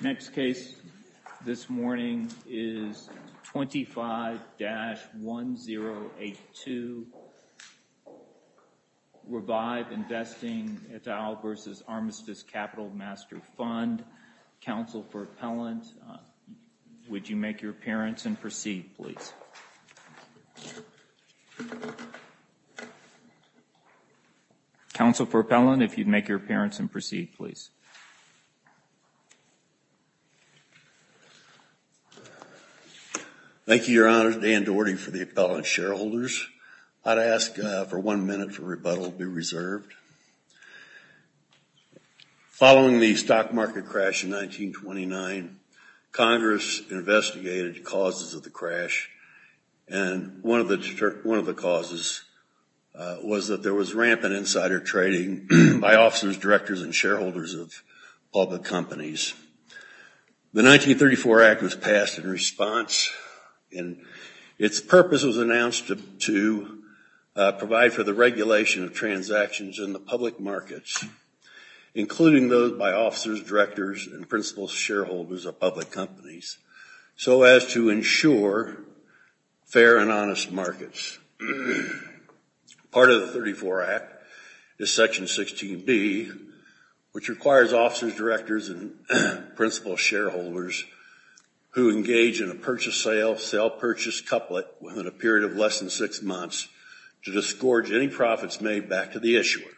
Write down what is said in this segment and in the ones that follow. Next case this morning is 25-1082 Revive Investing et al. v. Armistice Capital Master Fund. Counsel for appellant, would you make your appearance and proceed, please? Counsel for appellant, if you'd make your appearance and proceed, please. Thank you, Your Honor. Dan Doherty for the appellant shareholders. I'd ask for one minute for rebuttal to be reserved. Following the stock market crash in 1929, Congress investigated the causes of the crash, and one of the causes was that there was rampant insider trading by officers, directors, and shareholders of public companies. The 1934 Act was passed in response, and its purpose was announced to provide for the regulation of transactions in the public markets, including those by officers, directors, and principal shareholders of public companies, so as to ensure fair and honest markets. Part of the 1934 Act is Section 16B, which requires officers, directors, and principal shareholders who engage in a purchase-sale-sell-purchase couplet within a period of less than six months to disgorge any profits made back to the issuer.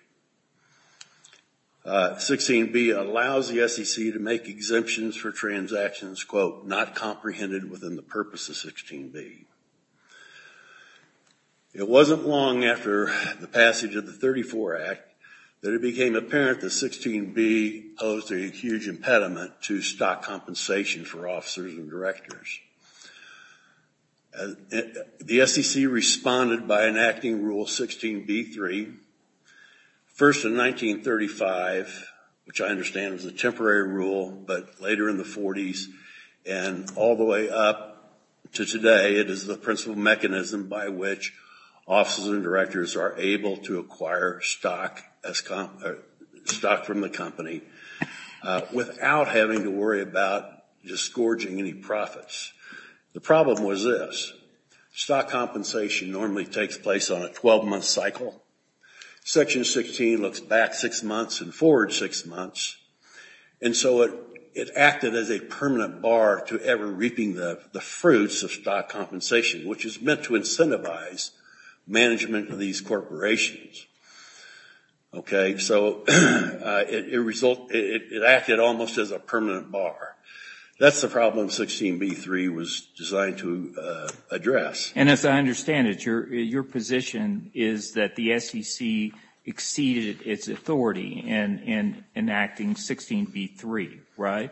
16B allows the SEC to make exemptions for transactions, quote, not comprehended within the purpose of 16B. It wasn't long after the passage of the 1934 Act that it became apparent that 16B posed a huge impediment to stock compensation for officers and directors. The SEC responded by enacting Rule 16B-3, first in 1935, which I understand was a temporary rule, but later in the 40s and all the way up to today, it is the principal mechanism by which officers and directors are able to acquire stock from the company without having to worry about disgorging any profits. The problem was this, stock compensation normally takes place on a 12-month cycle. Section 16 looks back six months and forward six months, and so it acted as a permanent bar to ever reaping the fruits of stock compensation, which is meant to incentivize management of these corporations. Okay, so it acted almost as a permanent bar. That's the problem 16B-3 was designed to address. And as I understand it, your position is that the SEC exceeded its authority in enacting 16B-3, right?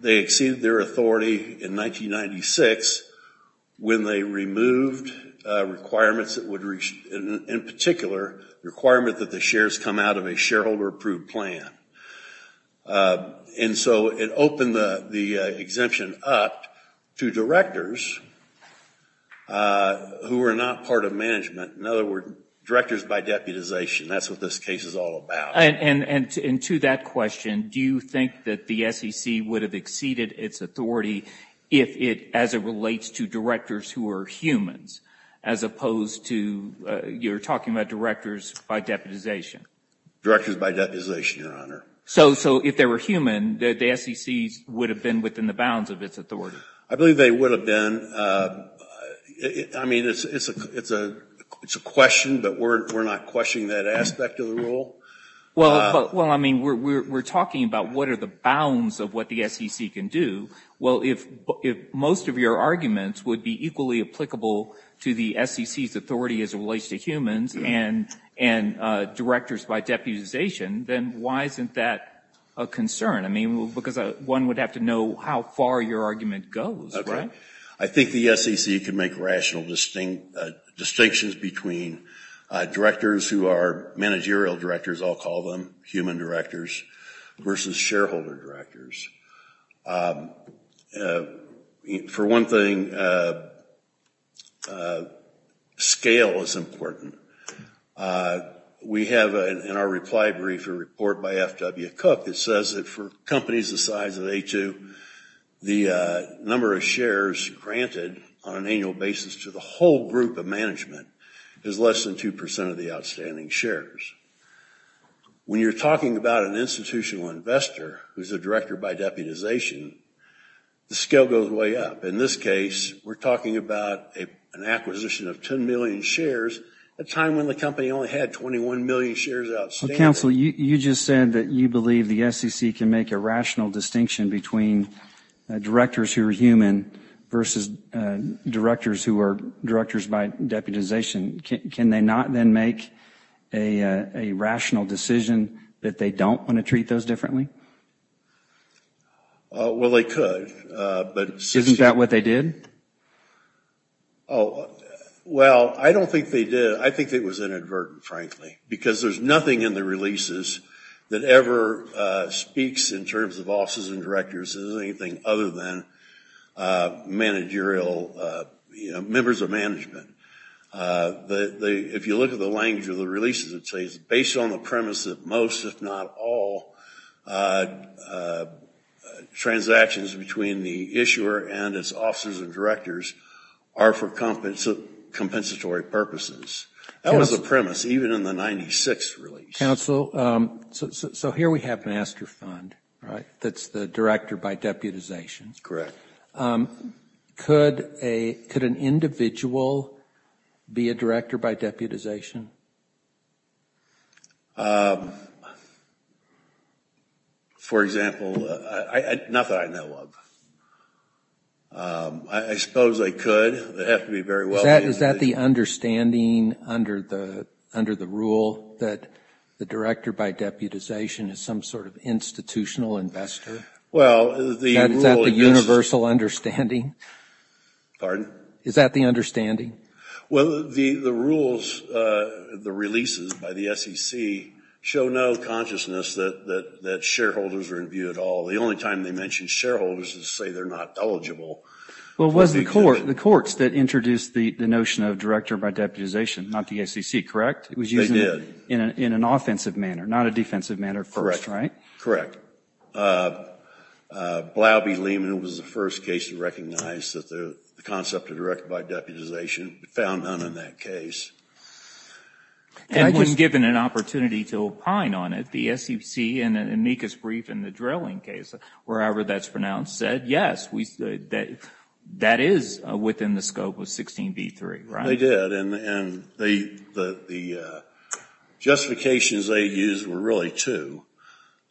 They exceeded their authority in 1996 when they removed requirements that would, in particular, that the shares come out of a shareholder-approved plan. And so it opened the exemption up to directors who were not part of management. In other words, directors by deputization. That's what this case is all about. And to that question, do you think that the SEC would have exceeded its authority if it, as it relates to directors who are humans, as opposed to you're talking about directors by deputization? Directors by deputization, Your Honor. So if they were human, the SEC would have been within the bounds of its authority? I believe they would have been. I mean, it's a question, but we're not questioning that aspect of the rule. Well, I mean, we're talking about what are the bounds of what the SEC can do. Well, if most of your arguments would be equally applicable to the SEC's authority as it relates to humans and directors by deputization, then why isn't that a concern? I mean, because one would have to know how far your argument goes, right? I think the SEC can make rational distinctions between directors who are managerial directors, I'll call them, human directors, versus shareholder directors. For one thing, scale is important. We have in our reply brief a report by F.W. Cook that says that for companies the size of A2, the number of shares granted on an annual basis to the whole group of management is less than 2% of the outstanding shares. When you're talking about an institutional investor who's a director by deputization, the scale goes way up. In this case, we're talking about an acquisition of 10 million shares at a time when the company only had 21 million shares outstanding. Well, counsel, you just said that you believe the SEC can make a rational distinction between directors who are human versus directors who are directors by deputization. Can they not then make a rational decision that they don't want to treat those differently? Well, they could. Isn't that what they did? Oh, well, I don't think they did. I think it was inadvertent, frankly, because there's nothing in the releases that ever speaks in terms of officers and directors as anything other than managerial, you know, members of management. If you look at the language of the releases, it says based on the premise that most, if not all, transactions between the issuer and its officers and directors are for compensatory purposes. That was the premise even in the 96th release. Counsel, so here we have Master Fund, right? That's the director by deputization. Could an individual be a director by deputization? For example, not that I know of. I suppose they could. Is that the understanding under the rule that the director by deputization is some sort of institutional investor? Is that the universal understanding? Pardon? Is that the understanding? Well, the rules, the releases by the SEC show no consciousness that shareholders are in view at all. The only time they mention shareholders is to say they're not eligible. Well, it was the courts that introduced the notion of director by deputization, not the SEC, correct? They did. It was used in an offensive manner, not a defensive manner at first, right? Correct. Blouby-Lehman was the first case to recognize the concept of director by deputization. It found none in that case. And was given an opportunity to opine on it. The SEC in an amicus brief in the drilling case, wherever that's pronounced, said, yes, that is within the scope of 16b-3, right? They did. And the justifications they used were really two,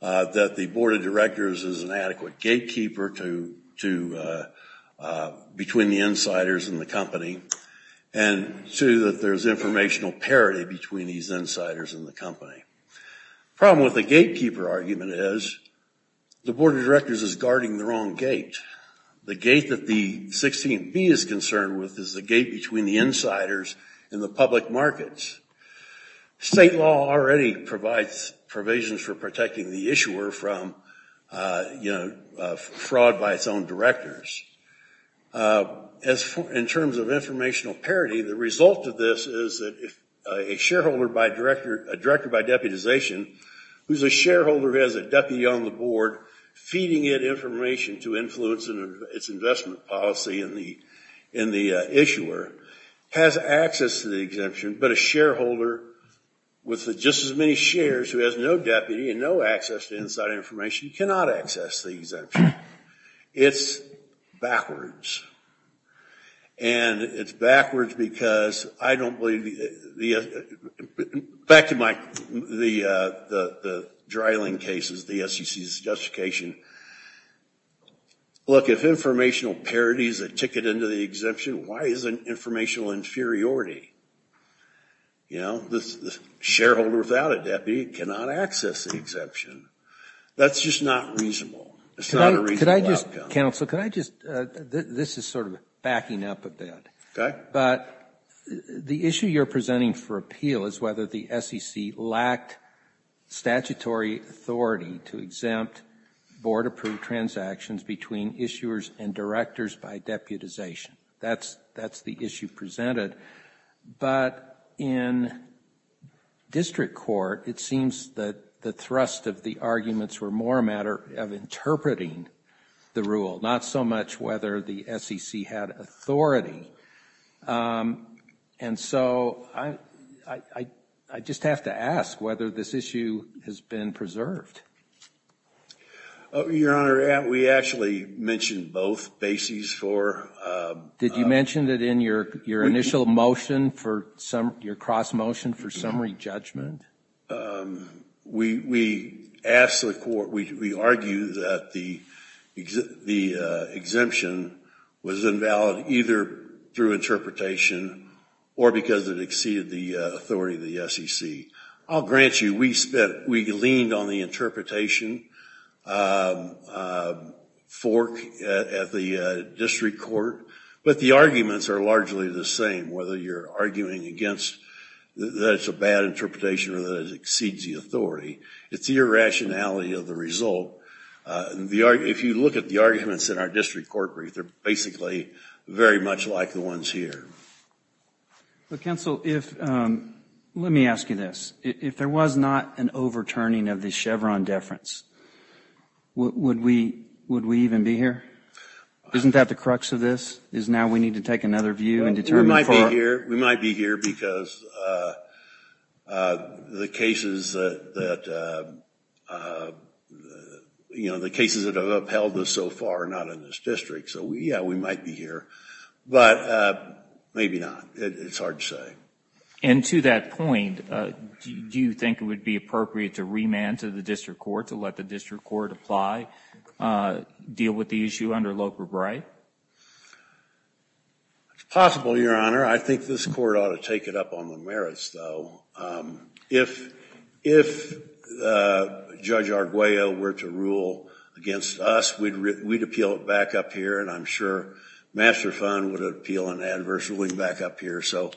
that the board of directors is an adequate gatekeeper between the insiders and the company, and two, that there's informational parity between these insiders and the company. The problem with the gatekeeper argument is the board of directors is guarding the wrong gate. The gate that the 16b is concerned with is the gate between the insiders and the public markets. State law already provides provisions for protecting the issuer from, you know, fraud by its own directors. In terms of informational parity, the result of this is that if a shareholder by director, a director by deputization, who's a shareholder who has a deputy on the board, feeding it information to influence its investment policy in the issuer, has access to the exemption, but a shareholder with just as many shares who has no deputy and no access to inside information cannot access the exemption. It's backwards. And it's backwards because I don't believe the, back to my, the dryling cases, the SEC's justification. Look, if informational parity is a ticket into the exemption, why is it informational inferiority? You know, the shareholder without a deputy cannot access the exemption. That's just not reasonable. It's not a reasonable outcome. Could I just, counsel, could I just, this is sort of backing up a bit. Okay. But the issue you're presenting for appeal is whether the SEC lacked statutory authority to exempt board-approved transactions between issuers and directors by deputization. That's the issue presented. But in district court, it seems that the thrust of the arguments were more a matter of interpreting the rule, not so much whether the SEC had authority. And so I just have to ask whether this issue has been preserved. Your Honor, we actually mentioned both bases for Did you mention that in your initial motion for, your cross motion for summary judgment? We asked the court, we argued that the exemption was invalid either through interpretation or because it exceeded the authority of the SEC. I'll grant you, we leaned on the interpretation fork at the district court. But the arguments are largely the same, whether you're arguing against that it's a bad interpretation or that it exceeds the authority. It's the irrationality of the result. If you look at the arguments in our district court brief, they're basically very much like the ones here. Counsel, if, let me ask you this. If there was not an overturning of the Chevron deference, would we even be here? Isn't that the crux of this? Is now we need to take another view and determine for We might be here because the cases that, you know, the cases that have upheld us so far are not in this district. So yeah, we might be here. But maybe not. It's hard to say. And to that point, do you think it would be appropriate to remand to the district court to let the district court apply, deal with the issue under Loper-Bright? It's possible, Your Honor. I think this court ought to take it up on the merits, though. If Judge Arguello were to rule against us, we'd appeal it back up here, and I'm sure Master Fund would appeal an adverse ruling back up here. So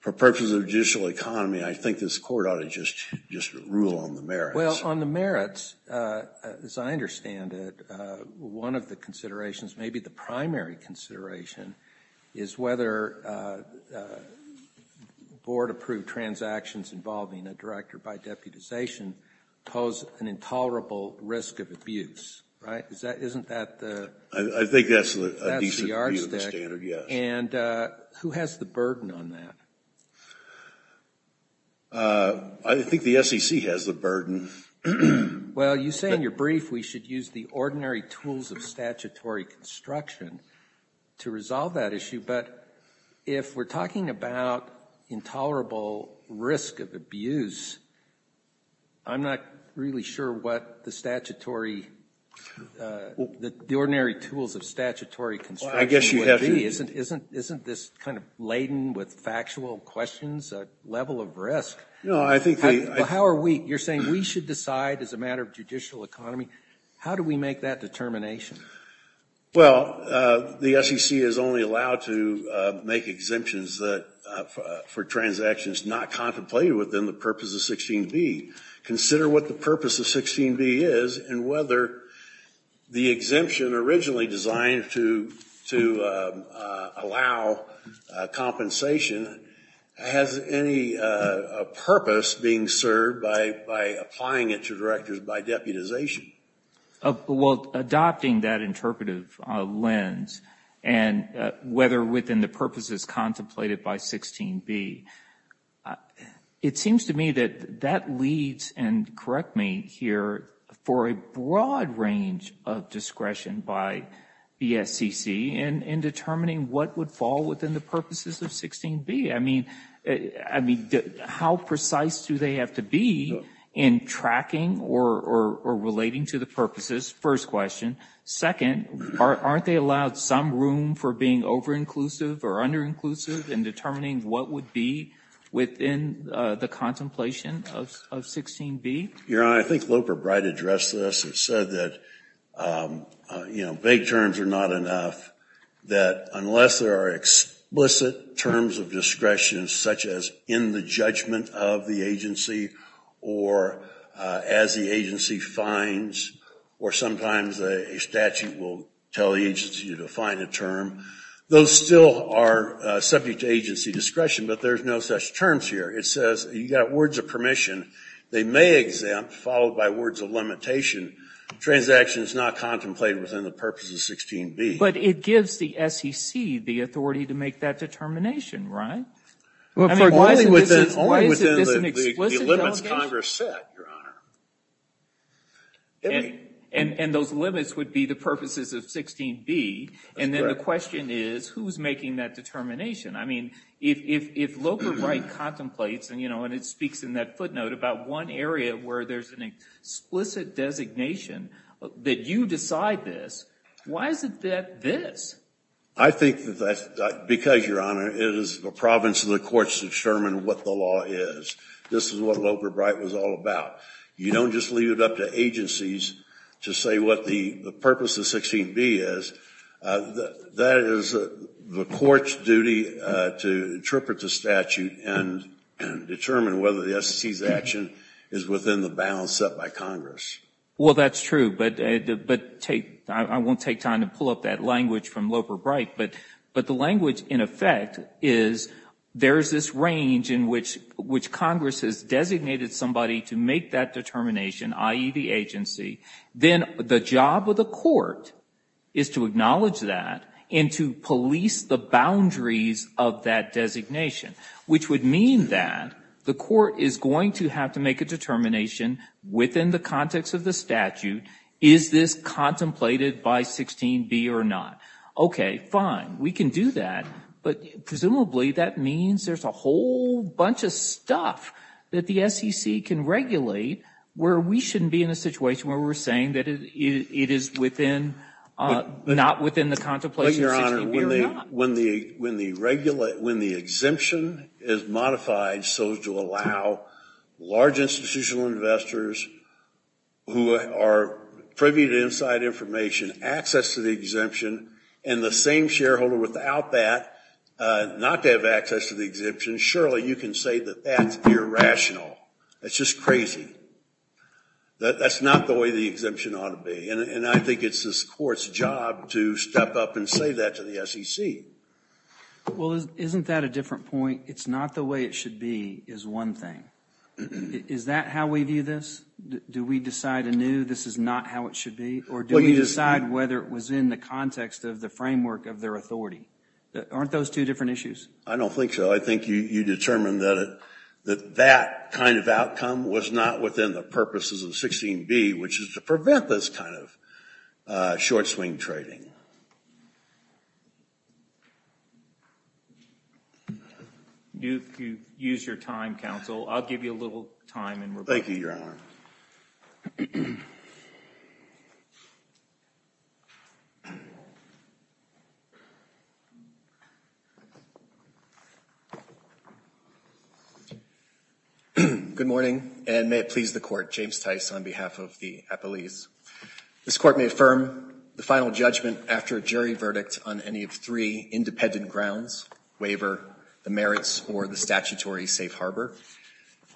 for purposes of judicial economy, I think this court ought to just rule on the merits. Well, on the merits, as I understand it, one of the considerations, maybe the primary consideration, is whether board-approved transactions involving a director by deputization pose an intolerable risk of abuse, right? Isn't that the art stick? I think that's a decent view of the standard, yes. And who has the burden on that? I think the SEC has the burden. Well, you say in your brief we should use the ordinary tools of statutory construction to resolve that issue, but if we're talking about intolerable risk of abuse, I'm not really sure what the ordinary tools of statutory construction would be. Well, I guess you have to. Isn't this kind of laden with factual questions a level of risk? Well, how are we? You're saying we should decide as a matter of judicial economy. How do we make that determination? Well, the SEC is only allowed to make exemptions for transactions not contemplated within the purpose of 16b. What is the purpose being served by applying it to directors by deputization? Well, adopting that interpretive lens and whether within the purposes contemplated by 16b, it seems to me that that leads, and correct me here, for a broad range of discretion by the SEC in determining what would fall within the purposes of 16b. I mean, how precise do they have to be in tracking or relating to the purposes? First question. Second, aren't they allowed some room for being over-inclusive or under-inclusive in determining what would be within the contemplation of 16b? Your Honor, I think Loper Bright addressed this and said that vague terms are not enough, that unless there are explicit terms of discretion such as in the judgment of the agency or as the agency finds or sometimes a statute will tell the agency to define a term, those still are subject to agency discretion, but there's no such terms here. It says you've got words of permission. They may exempt, followed by words of limitation, transactions not contemplated within the purposes of 16b. But it gives the SEC the authority to make that determination, right? Only within the limits Congress set, Your Honor. And those limits would be the purposes of 16b, and then the question is, who's making that determination? I mean, if Loper Bright contemplates, and it speaks in that footnote about one area where there's an explicit designation that you decide this, why is it that this? I think that's because, Your Honor, it is the province of the courts to determine what the law is. This is what Loper Bright was all about. You don't just leave it up to agencies to say what the purpose of 16b is. That is the court's duty to interpret the statute and determine whether the SEC's action is within the bounds set by Congress. Well, that's true, but I won't take time to pull up that language from Loper Bright. But the language, in effect, is there's this range in which Congress has designated somebody to make that determination, i.e., the agency, then the job of the court is to acknowledge that and to police the boundaries of that designation, which would mean that the court is going to have to make a determination within the context of the statute, is this contemplated by 16b or not? Okay, fine, we can do that, but presumably that means there's a whole bunch of stuff that the SEC can regulate where we shouldn't be in a situation where we're saying that it is not within the contemplation of 16b or not. But, Your Honor, when the exemption is modified so as to allow large institutional investors who are privy to inside information access to the exemption and the same shareholder without that not to have access to the exemption, surely you can say that that's irrational. That's just crazy. That's not the way the exemption ought to be, and I think it's this court's job to step up and say that to the SEC. Well, isn't that a different point? It's not the way it should be is one thing. Is that how we view this? Do we decide anew this is not how it should be? Or do we decide whether it was in the context of the framework of their authority? Aren't those two different issues? I don't think so. I think you determined that that kind of outcome was not within the purposes of 16b, which is to prevent this kind of short swing trading. If you use your time, counsel, I'll give you a little time in rebuttal. Thank you, Your Honor. Good morning, and may it please the court. James Tice on behalf of the appellees. This court may affirm the final judgment after a jury verdict on any of three independent grounds, waiver, the merits, or the statutory safe harbor.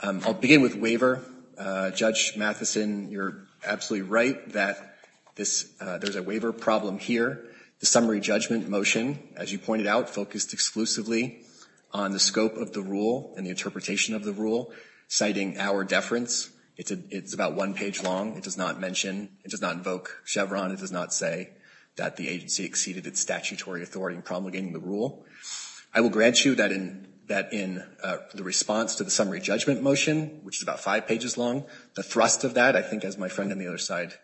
I'll begin with waiver. Judge Mathison, you're absolutely right that there's a waiver problem here. The summary judgment motion, as you pointed out, focused exclusively on the scope of the rule and the interpretation of the rule, citing our deference. It's about one page long. It does not mention, it does not invoke Chevron. It does not say that the agency exceeded its statutory authority in promulgating the rule. I will grant you that in the response to the summary judgment motion, which is about five pages long, the thrust of that, I think as my friend on the other side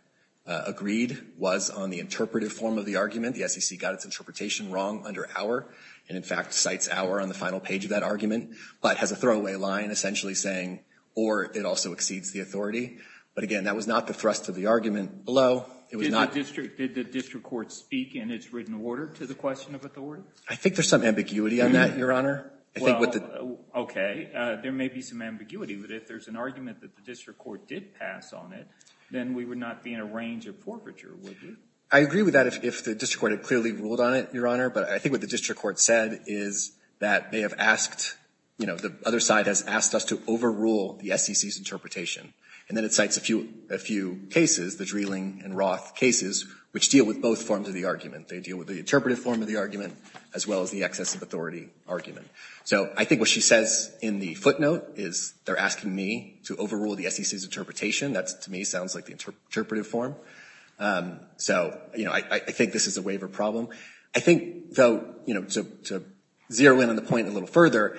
agreed, was on the interpretive form of the argument. The SEC got its interpretation wrong under our, and in fact, cites our on the final page of that argument, but has a throwaway line essentially saying, or it also exceeds the authority. But again, that was not the thrust of the argument below. Did the district court speak in its written order to the question of authority? I think there's some ambiguity on that, Your Honor. Well, okay. There may be some ambiguity. But if there's an argument that the district court did pass on it, then we would not be in a range of forfeiture, would we? I agree with that if the district court had clearly ruled on it, Your Honor. But I think what the district court said is that they have asked, you know, the other side has asked us to overrule the SEC's interpretation. And then it cites a few cases, the Dreeling and Roth cases, which deal with both forms of the argument. They deal with the interpretive form of the argument, as well as the excess of authority argument. So I think what she says in the footnote is they're asking me to overrule the SEC's interpretation. That, to me, sounds like the interpretive form. So, you know, I think this is a waiver problem. I think, though, you know, to zero in on the point a little further,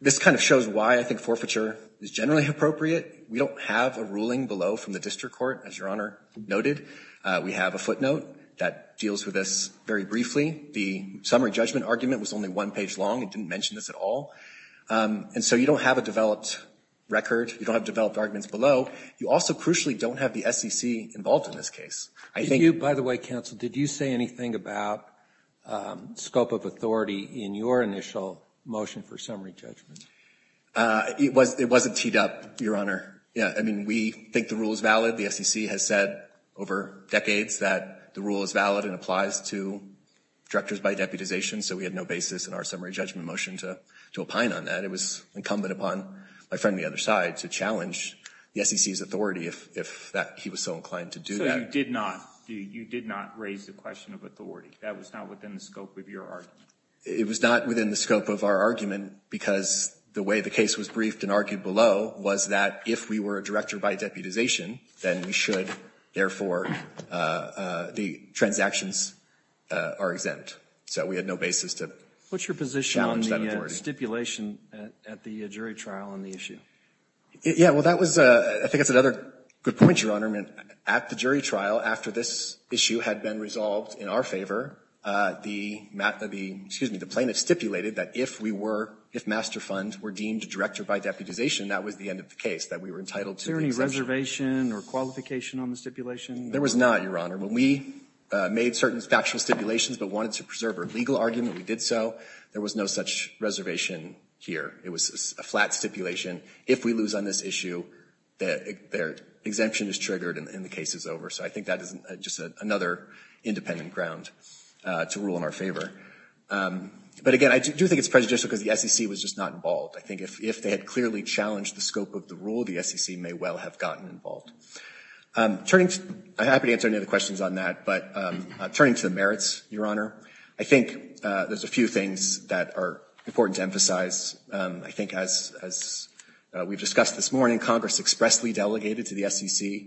this kind of shows why I think forfeiture is generally appropriate. We don't have a ruling below from the district court, as Your Honor noted. We have a footnote that deals with this very briefly. The summary judgment argument was only one page long. It didn't mention this at all. And so you don't have a developed record. You don't have developed arguments below. You also, crucially, don't have the SEC involved in this case. I think you By the way, counsel, did you say anything about scope of authority in your initial motion for summary judgment? It wasn't teed up, Your Honor. I mean, we think the rule is valid. The SEC has said over decades that the rule is valid and applies to directors by deputization. So we had no basis in our summary judgment motion to opine on that. It was incumbent upon my friend on the other side to challenge the SEC's authority if he was so inclined to do that. So you did not raise the question of authority. That was not within the scope of your argument. It was not within the scope of our argument because the way the case was then we should, therefore, the transactions are exempt. So we had no basis to challenge that authority. What's your position on the stipulation at the jury trial on the issue? Yeah. Well, that was, I think that's another good point, Your Honor. I mean, at the jury trial, after this issue had been resolved in our favor, the plaintiff stipulated that if we were, if master fund were deemed director by deputization, that was the end of the case, that we were entitled to the exemption. Was there a reservation or qualification on the stipulation? There was not, Your Honor. When we made certain factual stipulations but wanted to preserve our legal argument, we did so. There was no such reservation here. It was a flat stipulation. If we lose on this issue, their exemption is triggered and the case is over. So I think that is just another independent ground to rule in our favor. But, again, I do think it's prejudicial because the SEC was just not involved. I think if they had clearly challenged the scope of the rule, the SEC may well have gotten involved. Turning to, I'm happy to answer any other questions on that, but turning to the merits, Your Honor, I think there's a few things that are important to emphasize. I think as we've discussed this morning, Congress expressly delegated to the SEC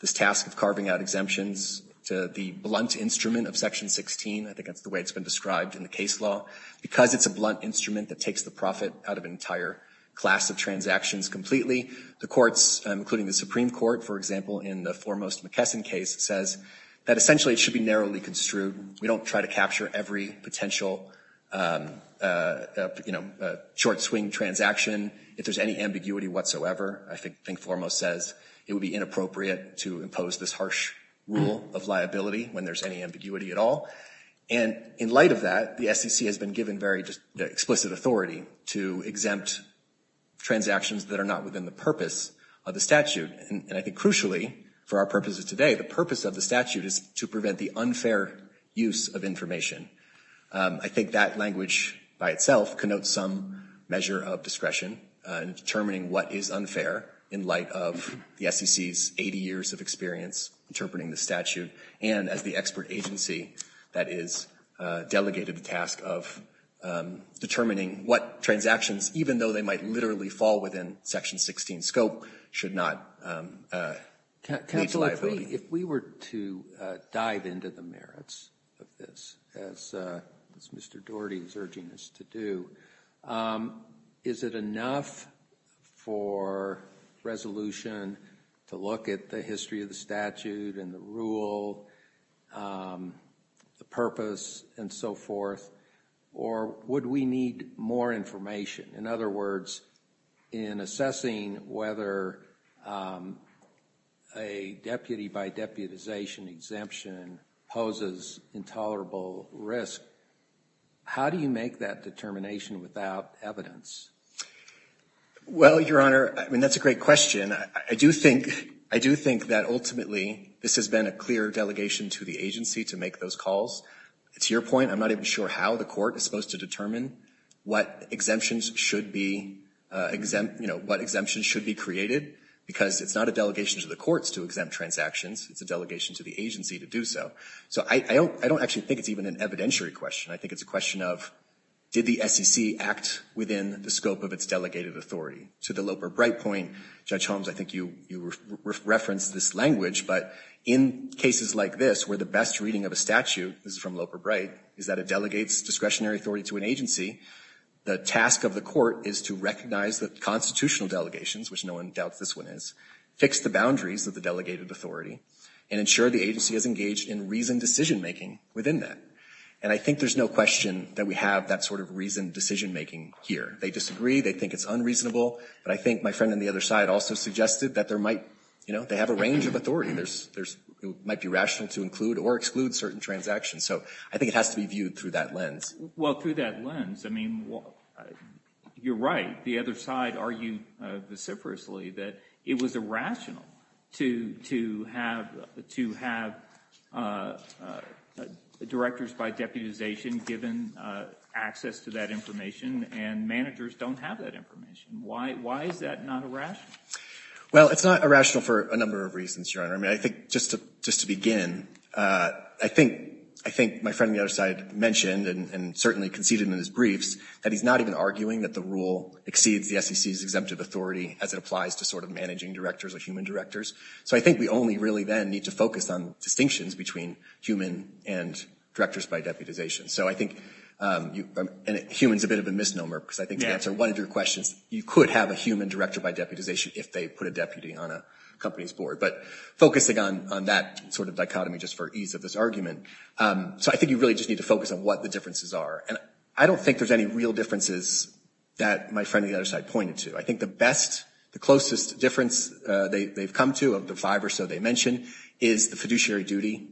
this task of carving out exemptions to the blunt instrument of Section 16. I think that's the way it's been described in the case law. Because it's a blunt instrument that takes the profit out of an entire class of transactions completely, the courts, including the Supreme Court, for example, in the Foremost McKesson case, says that essentially it should be narrowly construed. We don't try to capture every potential, you know, short swing transaction. If there's any ambiguity whatsoever, I think Foremost says it would be inappropriate to impose this harsh rule of liability when there's any ambiguity at all. And in light of that, the SEC has been given very explicit authority to exempt transactions that are not within the purpose of the statute. And I think crucially, for our purposes today, the purpose of the statute is to prevent the unfair use of information. I think that language by itself connotes some measure of discretion in determining what is unfair in light of the SEC's 80 years of experience interpreting the statute. And as the expert agency that is delegated the task of determining what transactions, even though they might literally fall within Section 16 scope, should not lead to liability. If we were to dive into the merits of this, as Mr. Doherty is urging us to do, is it enough for resolution to look at the history of the statute and the rule, the purpose, and so forth? Or would we need more information? In other words, in assessing whether a deputy by deputization exemption poses intolerable risk, how do you make that determination without evidence? Well, Your Honor, I mean, that's a great question. I do think that ultimately this has been a clear delegation to the agency to make those calls. To your point, I'm not even sure how the court is supposed to determine what exemptions should be created, because it's not a delegation to the courts to exempt transactions. It's a delegation to the agency to do so. So I don't actually think it's even an evidentiary question. I think it's a question of, did the SEC act within the scope of its delegated authority? To the Loper-Bright point, Judge Holmes, I think you referenced this language, but in cases like this where the best reading of a statute, this is from Loper-Bright, is that it delegates discretionary authority to an agency. The task of the court is to recognize the constitutional delegations, which no one doubts this one is, fix the boundaries of the delegated authority, and ensure the agency is engaged in reasoned decision-making within that. And I think there's no question that we have that sort of reasoned decision-making here. They disagree. They think it's unreasonable. But I think my friend on the other side also suggested that there might, you know, they have a range of authority. It might be rational to include or exclude certain transactions. So I think it has to be viewed through that lens. Well, through that lens, I mean, you're right. The other side argued vociferously that it was irrational to have directors by deputization given access to that information, and managers don't have that information. Why is that not irrational? Well, it's not irrational for a number of reasons, Your Honor. I mean, I think just to begin, I think my friend on the other side mentioned and certainly conceded in his briefs that he's not even arguing that the rule exceeds the SEC's exemptive authority as it applies to sort of managing directors or human directors. So I think we only really then need to focus on distinctions between human and directors by deputization. So I think – and human's a bit of a misnomer because I think to answer one of your questions, you could have a human director by deputization if they put a deputy on a company's board. But focusing on that sort of dichotomy just for ease of this argument, so I think you really just need to focus on what the differences are. And I don't think there's any real differences that my friend on the other side pointed to. I think the best, the closest difference they've come to of the five or so they mentioned is the fiduciary duty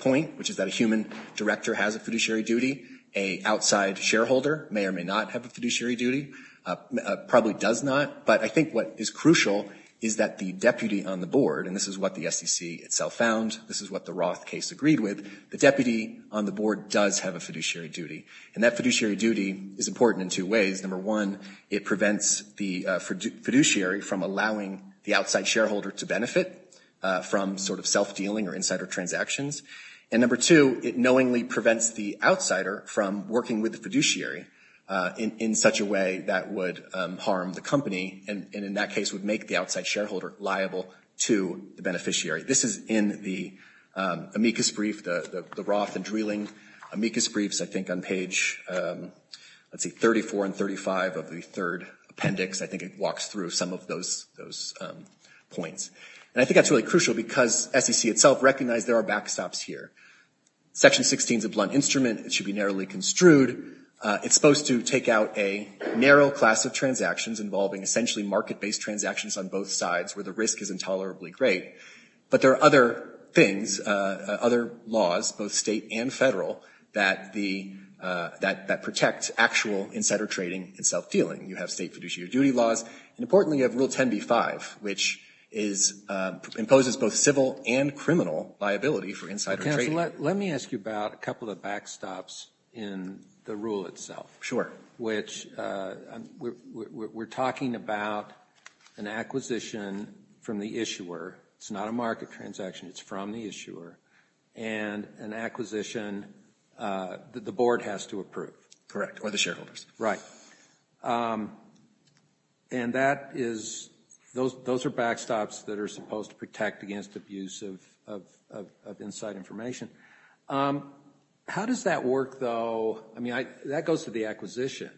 point, which is that a human director has a fiduciary duty. A outside shareholder may or may not have a fiduciary duty, probably does not. But I think what is crucial is that the deputy on the board – and this is what the SEC itself found, this is what the Roth case agreed with – the deputy on the board does have a fiduciary duty. And that fiduciary duty is important in two ways. Number one, it prevents the fiduciary from allowing the outside shareholder to benefit from sort of self-dealing or insider transactions. And number two, it knowingly prevents the outsider from working with the fiduciary in such a way that would harm the company and in that case would make the outside shareholder liable to the beneficiary. This is in the amicus brief, the Roth and Dreeling amicus briefs, I think on page, let's see, 34 and 35 of the third appendix. I think it walks through some of those points. And I think that's really crucial because SEC itself recognized there are backstops here. Section 16 is a blunt instrument. It should be narrowly construed. It's supposed to take out a narrow class of transactions involving essentially market-based transactions on both sides where the risk is intolerably great. But there are other things, other laws, both state and federal, that protect actual insider trading and self-dealing. You have state fiduciary duty laws. And importantly, you have Rule 10b-5, which imposes both civil and criminal liability for insider trading. Let me ask you about a couple of backstops in the rule itself. Sure. Which we're talking about an acquisition from the issuer. It's not a market transaction. It's from the issuer. And an acquisition that the board has to approve. Or the shareholders. Right. And that is, those are backstops that are supposed to protect against abuse of inside information. How does that work, though? I mean, that goes to the acquisition.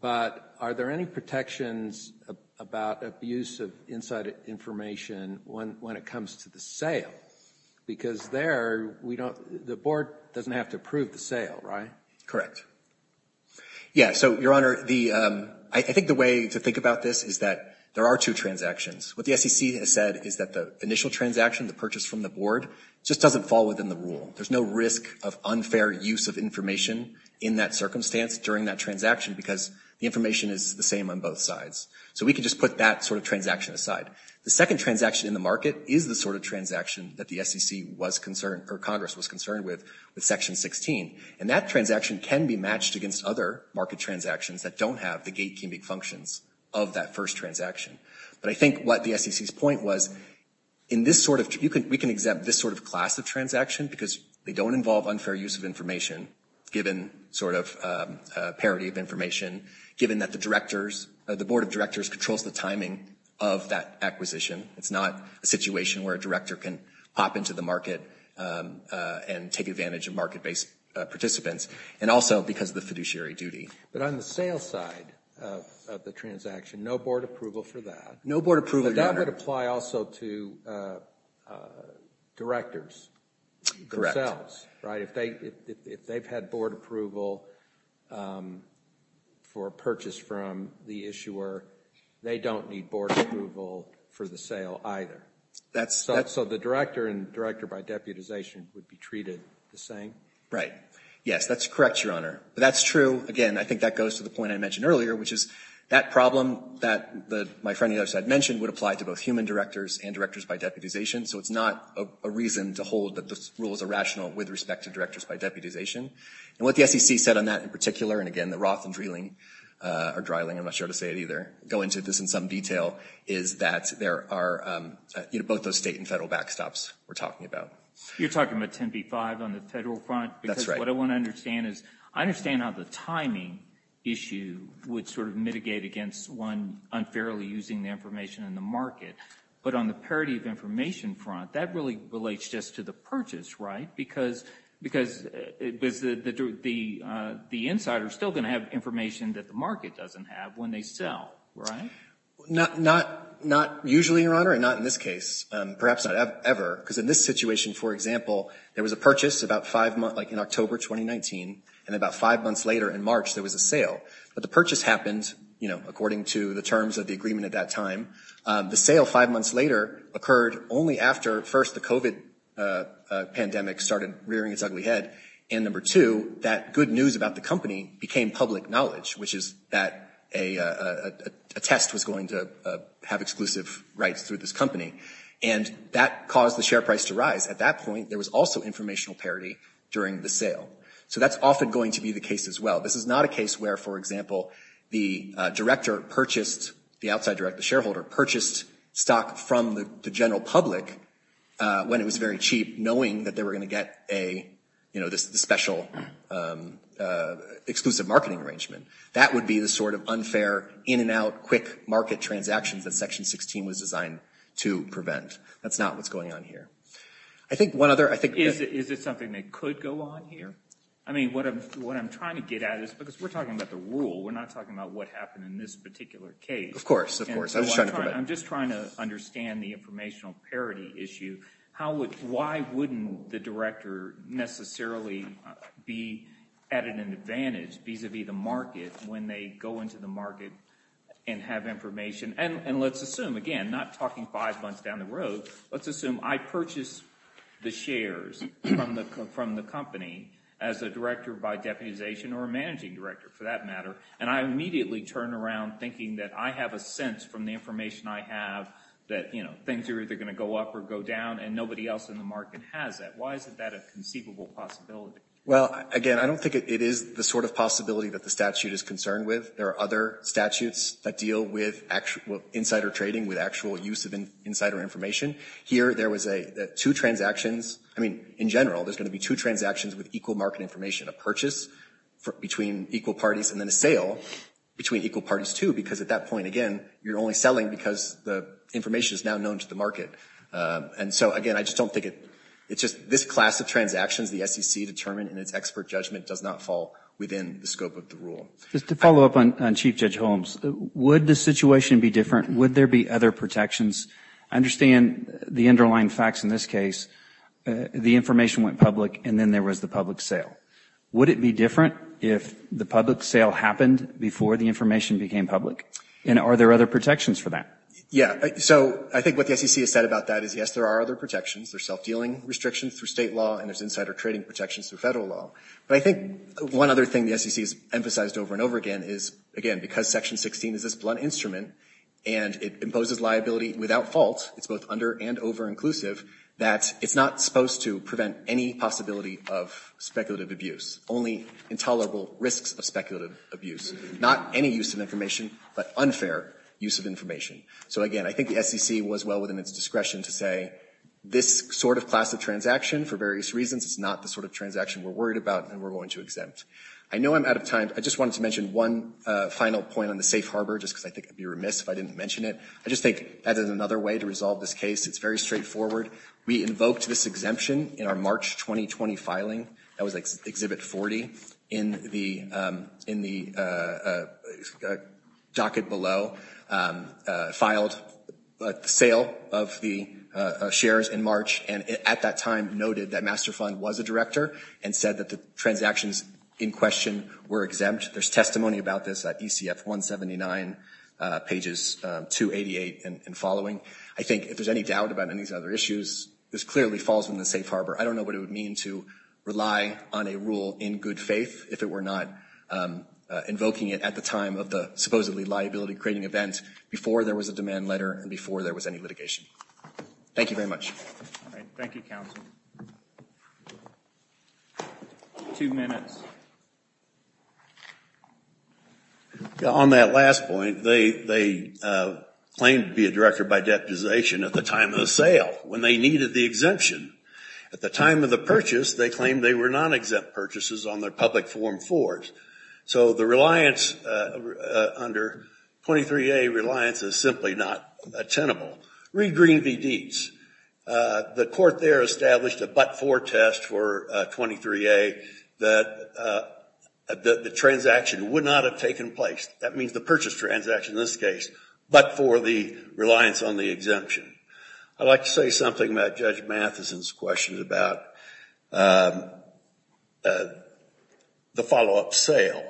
But are there any protections about abuse of inside information when it comes to the sale? Because there, we don't, the board doesn't have to approve the sale, right? Correct. Yeah, so, Your Honor, the, I think the way to think about this is that there are two transactions. What the SEC has said is that the initial transaction, the purchase from the board, just doesn't fall within the rule. There's no risk of unfair use of information in that circumstance during that transaction because the information is the same on both sides. So we can just put that sort of transaction aside. The second transaction in the market is the sort of transaction that the SEC was concerned, or Congress was concerned with, with Section 16. And that transaction can be matched against other market transactions that don't have the gatekeeping functions of that first transaction. But I think what the SEC's point was, in this sort of, we can exempt this sort of class of transaction because they don't involve unfair use of information, given that the directors, the board of directors controls the timing of that acquisition. It's not a situation where a director can pop into the market and take advantage of market-based participants. And also because of the fiduciary duty. But on the sales side of the transaction, no board approval for that. No board approval, Your Honor. But that would apply also to directors themselves, right? If they've had board approval for purchase from the issuer, they don't need board approval for the sale either. So the director and director by deputization would be treated the same? Right. Yes, that's correct, Your Honor. That's true. Again, I think that goes to the point I mentioned earlier, which is that problem that my friend on the other side mentioned would apply to both human directors and directors by deputization. So it's not a reason to hold that this rule is irrational with respect to directors by deputization. And what the SEC said on that in particular, and again, the Roth and Drehling, or Dryling, I'm not sure how to say it either, go into this in some detail, is that there are both those state and federal backstops we're talking about. You're talking about 10B-5 on the federal front? That's right. Because what I want to understand is, I understand how the timing issue would sort of mitigate against one unfairly using the information in the state and federal front. That really relates just to the purchase, right? Because the insider is still going to have information that the market doesn't have when they sell, right? Not usually, Your Honor, and not in this case. Perhaps not ever. Because in this situation, for example, there was a purchase in October 2019, and about five months later in March there was a sale. But the purchase happened, you know, according to the terms of the agreement at that time. The sale five months later occurred only after, first, the COVID pandemic started rearing its ugly head, and number two, that good news about the company became public knowledge, which is that a test was going to have exclusive rights through this company. And that caused the share price to rise. At that point, there was also informational parity during the sale. So that's often going to be the case as well. This is not a case where, for example, the director purchased, the outside director, the shareholder purchased stock from the general public when it was very cheap, knowing that they were going to get a, you know, this special exclusive marketing arrangement. That would be the sort of unfair, in-and-out, quick market transactions that Section 16 was designed to prevent. That's not what's going on here. I think one other, I think. Is it something that could go on here? I mean, what I'm trying to get at is, because we're talking about the rule, we're not talking about what happened in this particular case. Of course, of course. I was just trying to come back. I'm just trying to understand the informational parity issue. Why wouldn't the director necessarily be at an advantage vis-a-vis the market when they go into the market and have information? And let's assume, again, not talking five months down the road, let's assume I purchased the shares from the company as a director by deputization or a managing director, for that matter, and I immediately turn around thinking that I have a sense from the information I have that, you know, things are either going to go up or go down, and nobody else in the market has that. Why isn't that a conceivable possibility? Well, again, I don't think it is the sort of possibility that the statute is concerned with. There are other statutes that deal with insider trading, with actual use of insider information. Here, there was two transactions. I mean, in general, there's going to be two transactions with equal market information, a purchase between equal parties and then a sale between equal parties, too, because at that point, again, you're only selling because the information is now known to the market. And so, again, I just don't think it's just this class of transactions the SEC determined in its expert judgment does not fall within the scope of the rule. Just to follow up on Chief Judge Holmes, would the situation be different? Would there be other protections? I understand the underlying facts in this case. The information went public, and then there was the public sale. Would it be different if the public sale happened before the information became public? And are there other protections for that? So I think what the SEC has said about that is, yes, there are other protections. There's self-dealing restrictions through State law, and there's insider trading protections through Federal law. But I think one other thing the SEC has emphasized over and over again is, again, because Section 16 is this blunt instrument, and it imposes liability without fault, it's both under- and over-inclusive, that it's not supposed to prevent any possibility of speculative abuse. Only intolerable risks of speculative abuse. Not any use of information, but unfair use of information. So, again, I think the SEC was well within its discretion to say this sort of class of transaction, for various reasons, is not the sort of transaction we're worried about and we're going to exempt. I know I'm out of time. I just wanted to mention one final point on the safe harbor, just because I think I'd be remiss if I didn't mention it. I just think that is another way to resolve this case. It's very straightforward. We invoked this exemption in our March 2020 filing. That was Exhibit 40. In the docket below, filed a sale of the shares in March, and at that time noted that Master Fund was a director and said that the transactions in question were exempt. There's testimony about this at ECF 179, pages 288 and following. I think if there's any doubt about any of these other issues, this clearly falls within the safe harbor. I don't know what it would mean to rely on a rule in good faith if it were not invoking it at the time of the supposedly liability-creating event, before there was a demand letter, and before there was any litigation. Thank you very much. All right. Thank you, counsel. Two minutes. Counsel. On that last point, they claimed to be a director by deputization at the time of the sale, when they needed the exemption. At the time of the purchase, they claimed they were non-exempt purchases on their public form fours. So the reliance under 23A reliance is simply not attenable. Read Green v. Dietz. The court there established a but-for test for 23A, that the transaction would not have taken place. That means the purchase transaction in this case, but for the reliance on the I'd like to say something about Judge Mathison's questions about the follow-up sale.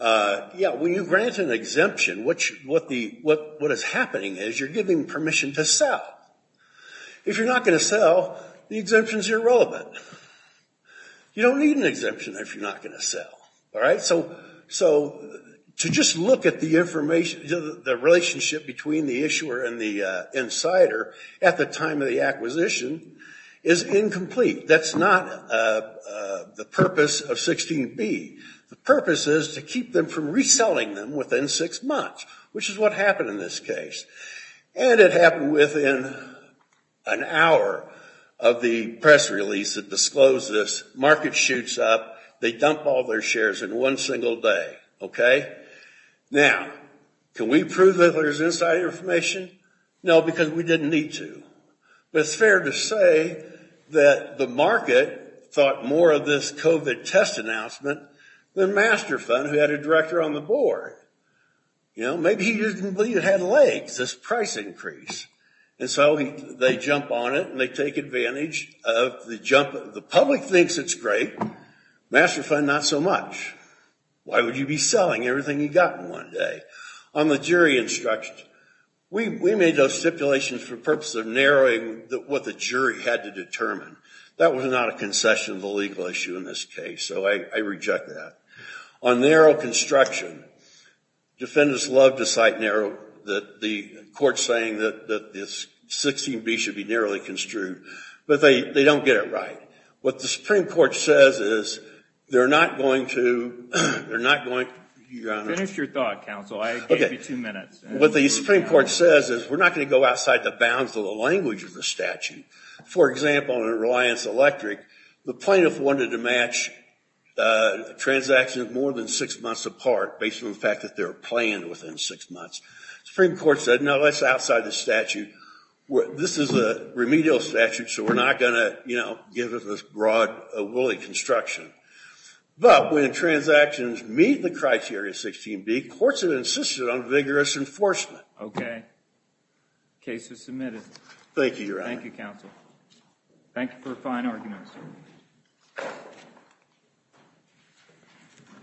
Yeah, when you grant an exemption, what is happening is you're giving permission to sell. If you're not going to sell, the exemption is irrelevant. You don't need an exemption if you're not going to sell. All right? So to just look at the relationship between the issuer and the insider at the time of the acquisition is incomplete. That's not the purpose of 16B. The purpose is to keep them from reselling them within six months, which is what happened in this case. And it happened within an hour of the press release that disclosed this. Market shoots up. They dump all their shares in one single day. Okay? Now, can we prove that there's insider information? No, because we didn't need to. But it's fair to say that the market thought more of this COVID test announcement than Masterfund, who had a director on the board. You know, maybe he didn't believe he had legs. This price increase. And so they jump on it, and they take advantage of the jump. The public thinks it's great. Masterfund, not so much. Why would you be selling everything you got in one day? On the jury instructions, we made those stipulations for the purpose of narrowing what the jury had to determine. That was not a concession of the legal issue in this case, so I reject that. On narrow construction, defendants love to cite the court saying that the 16B should be narrowly construed. But they don't get it right. What the Supreme Court says is they're not going to – Finish your thought, counsel. I gave you two minutes. What the Supreme Court says is we're not going to go outside the bounds of the language of the statute. For example, in Reliance Electric, the plaintiff wanted to match transactions more than six months apart based on the fact that they were planned within six months. Supreme Court said, no, that's outside the statute. This is a remedial statute, so we're not going to give it this broad, wooly construction. But when transactions meet the criteria 16B, courts have insisted on vigorous enforcement. Okay. Case is submitted. Thank you, Your Honor. Thank you, counsel. Thank you for a fine argument, sir. Thank you.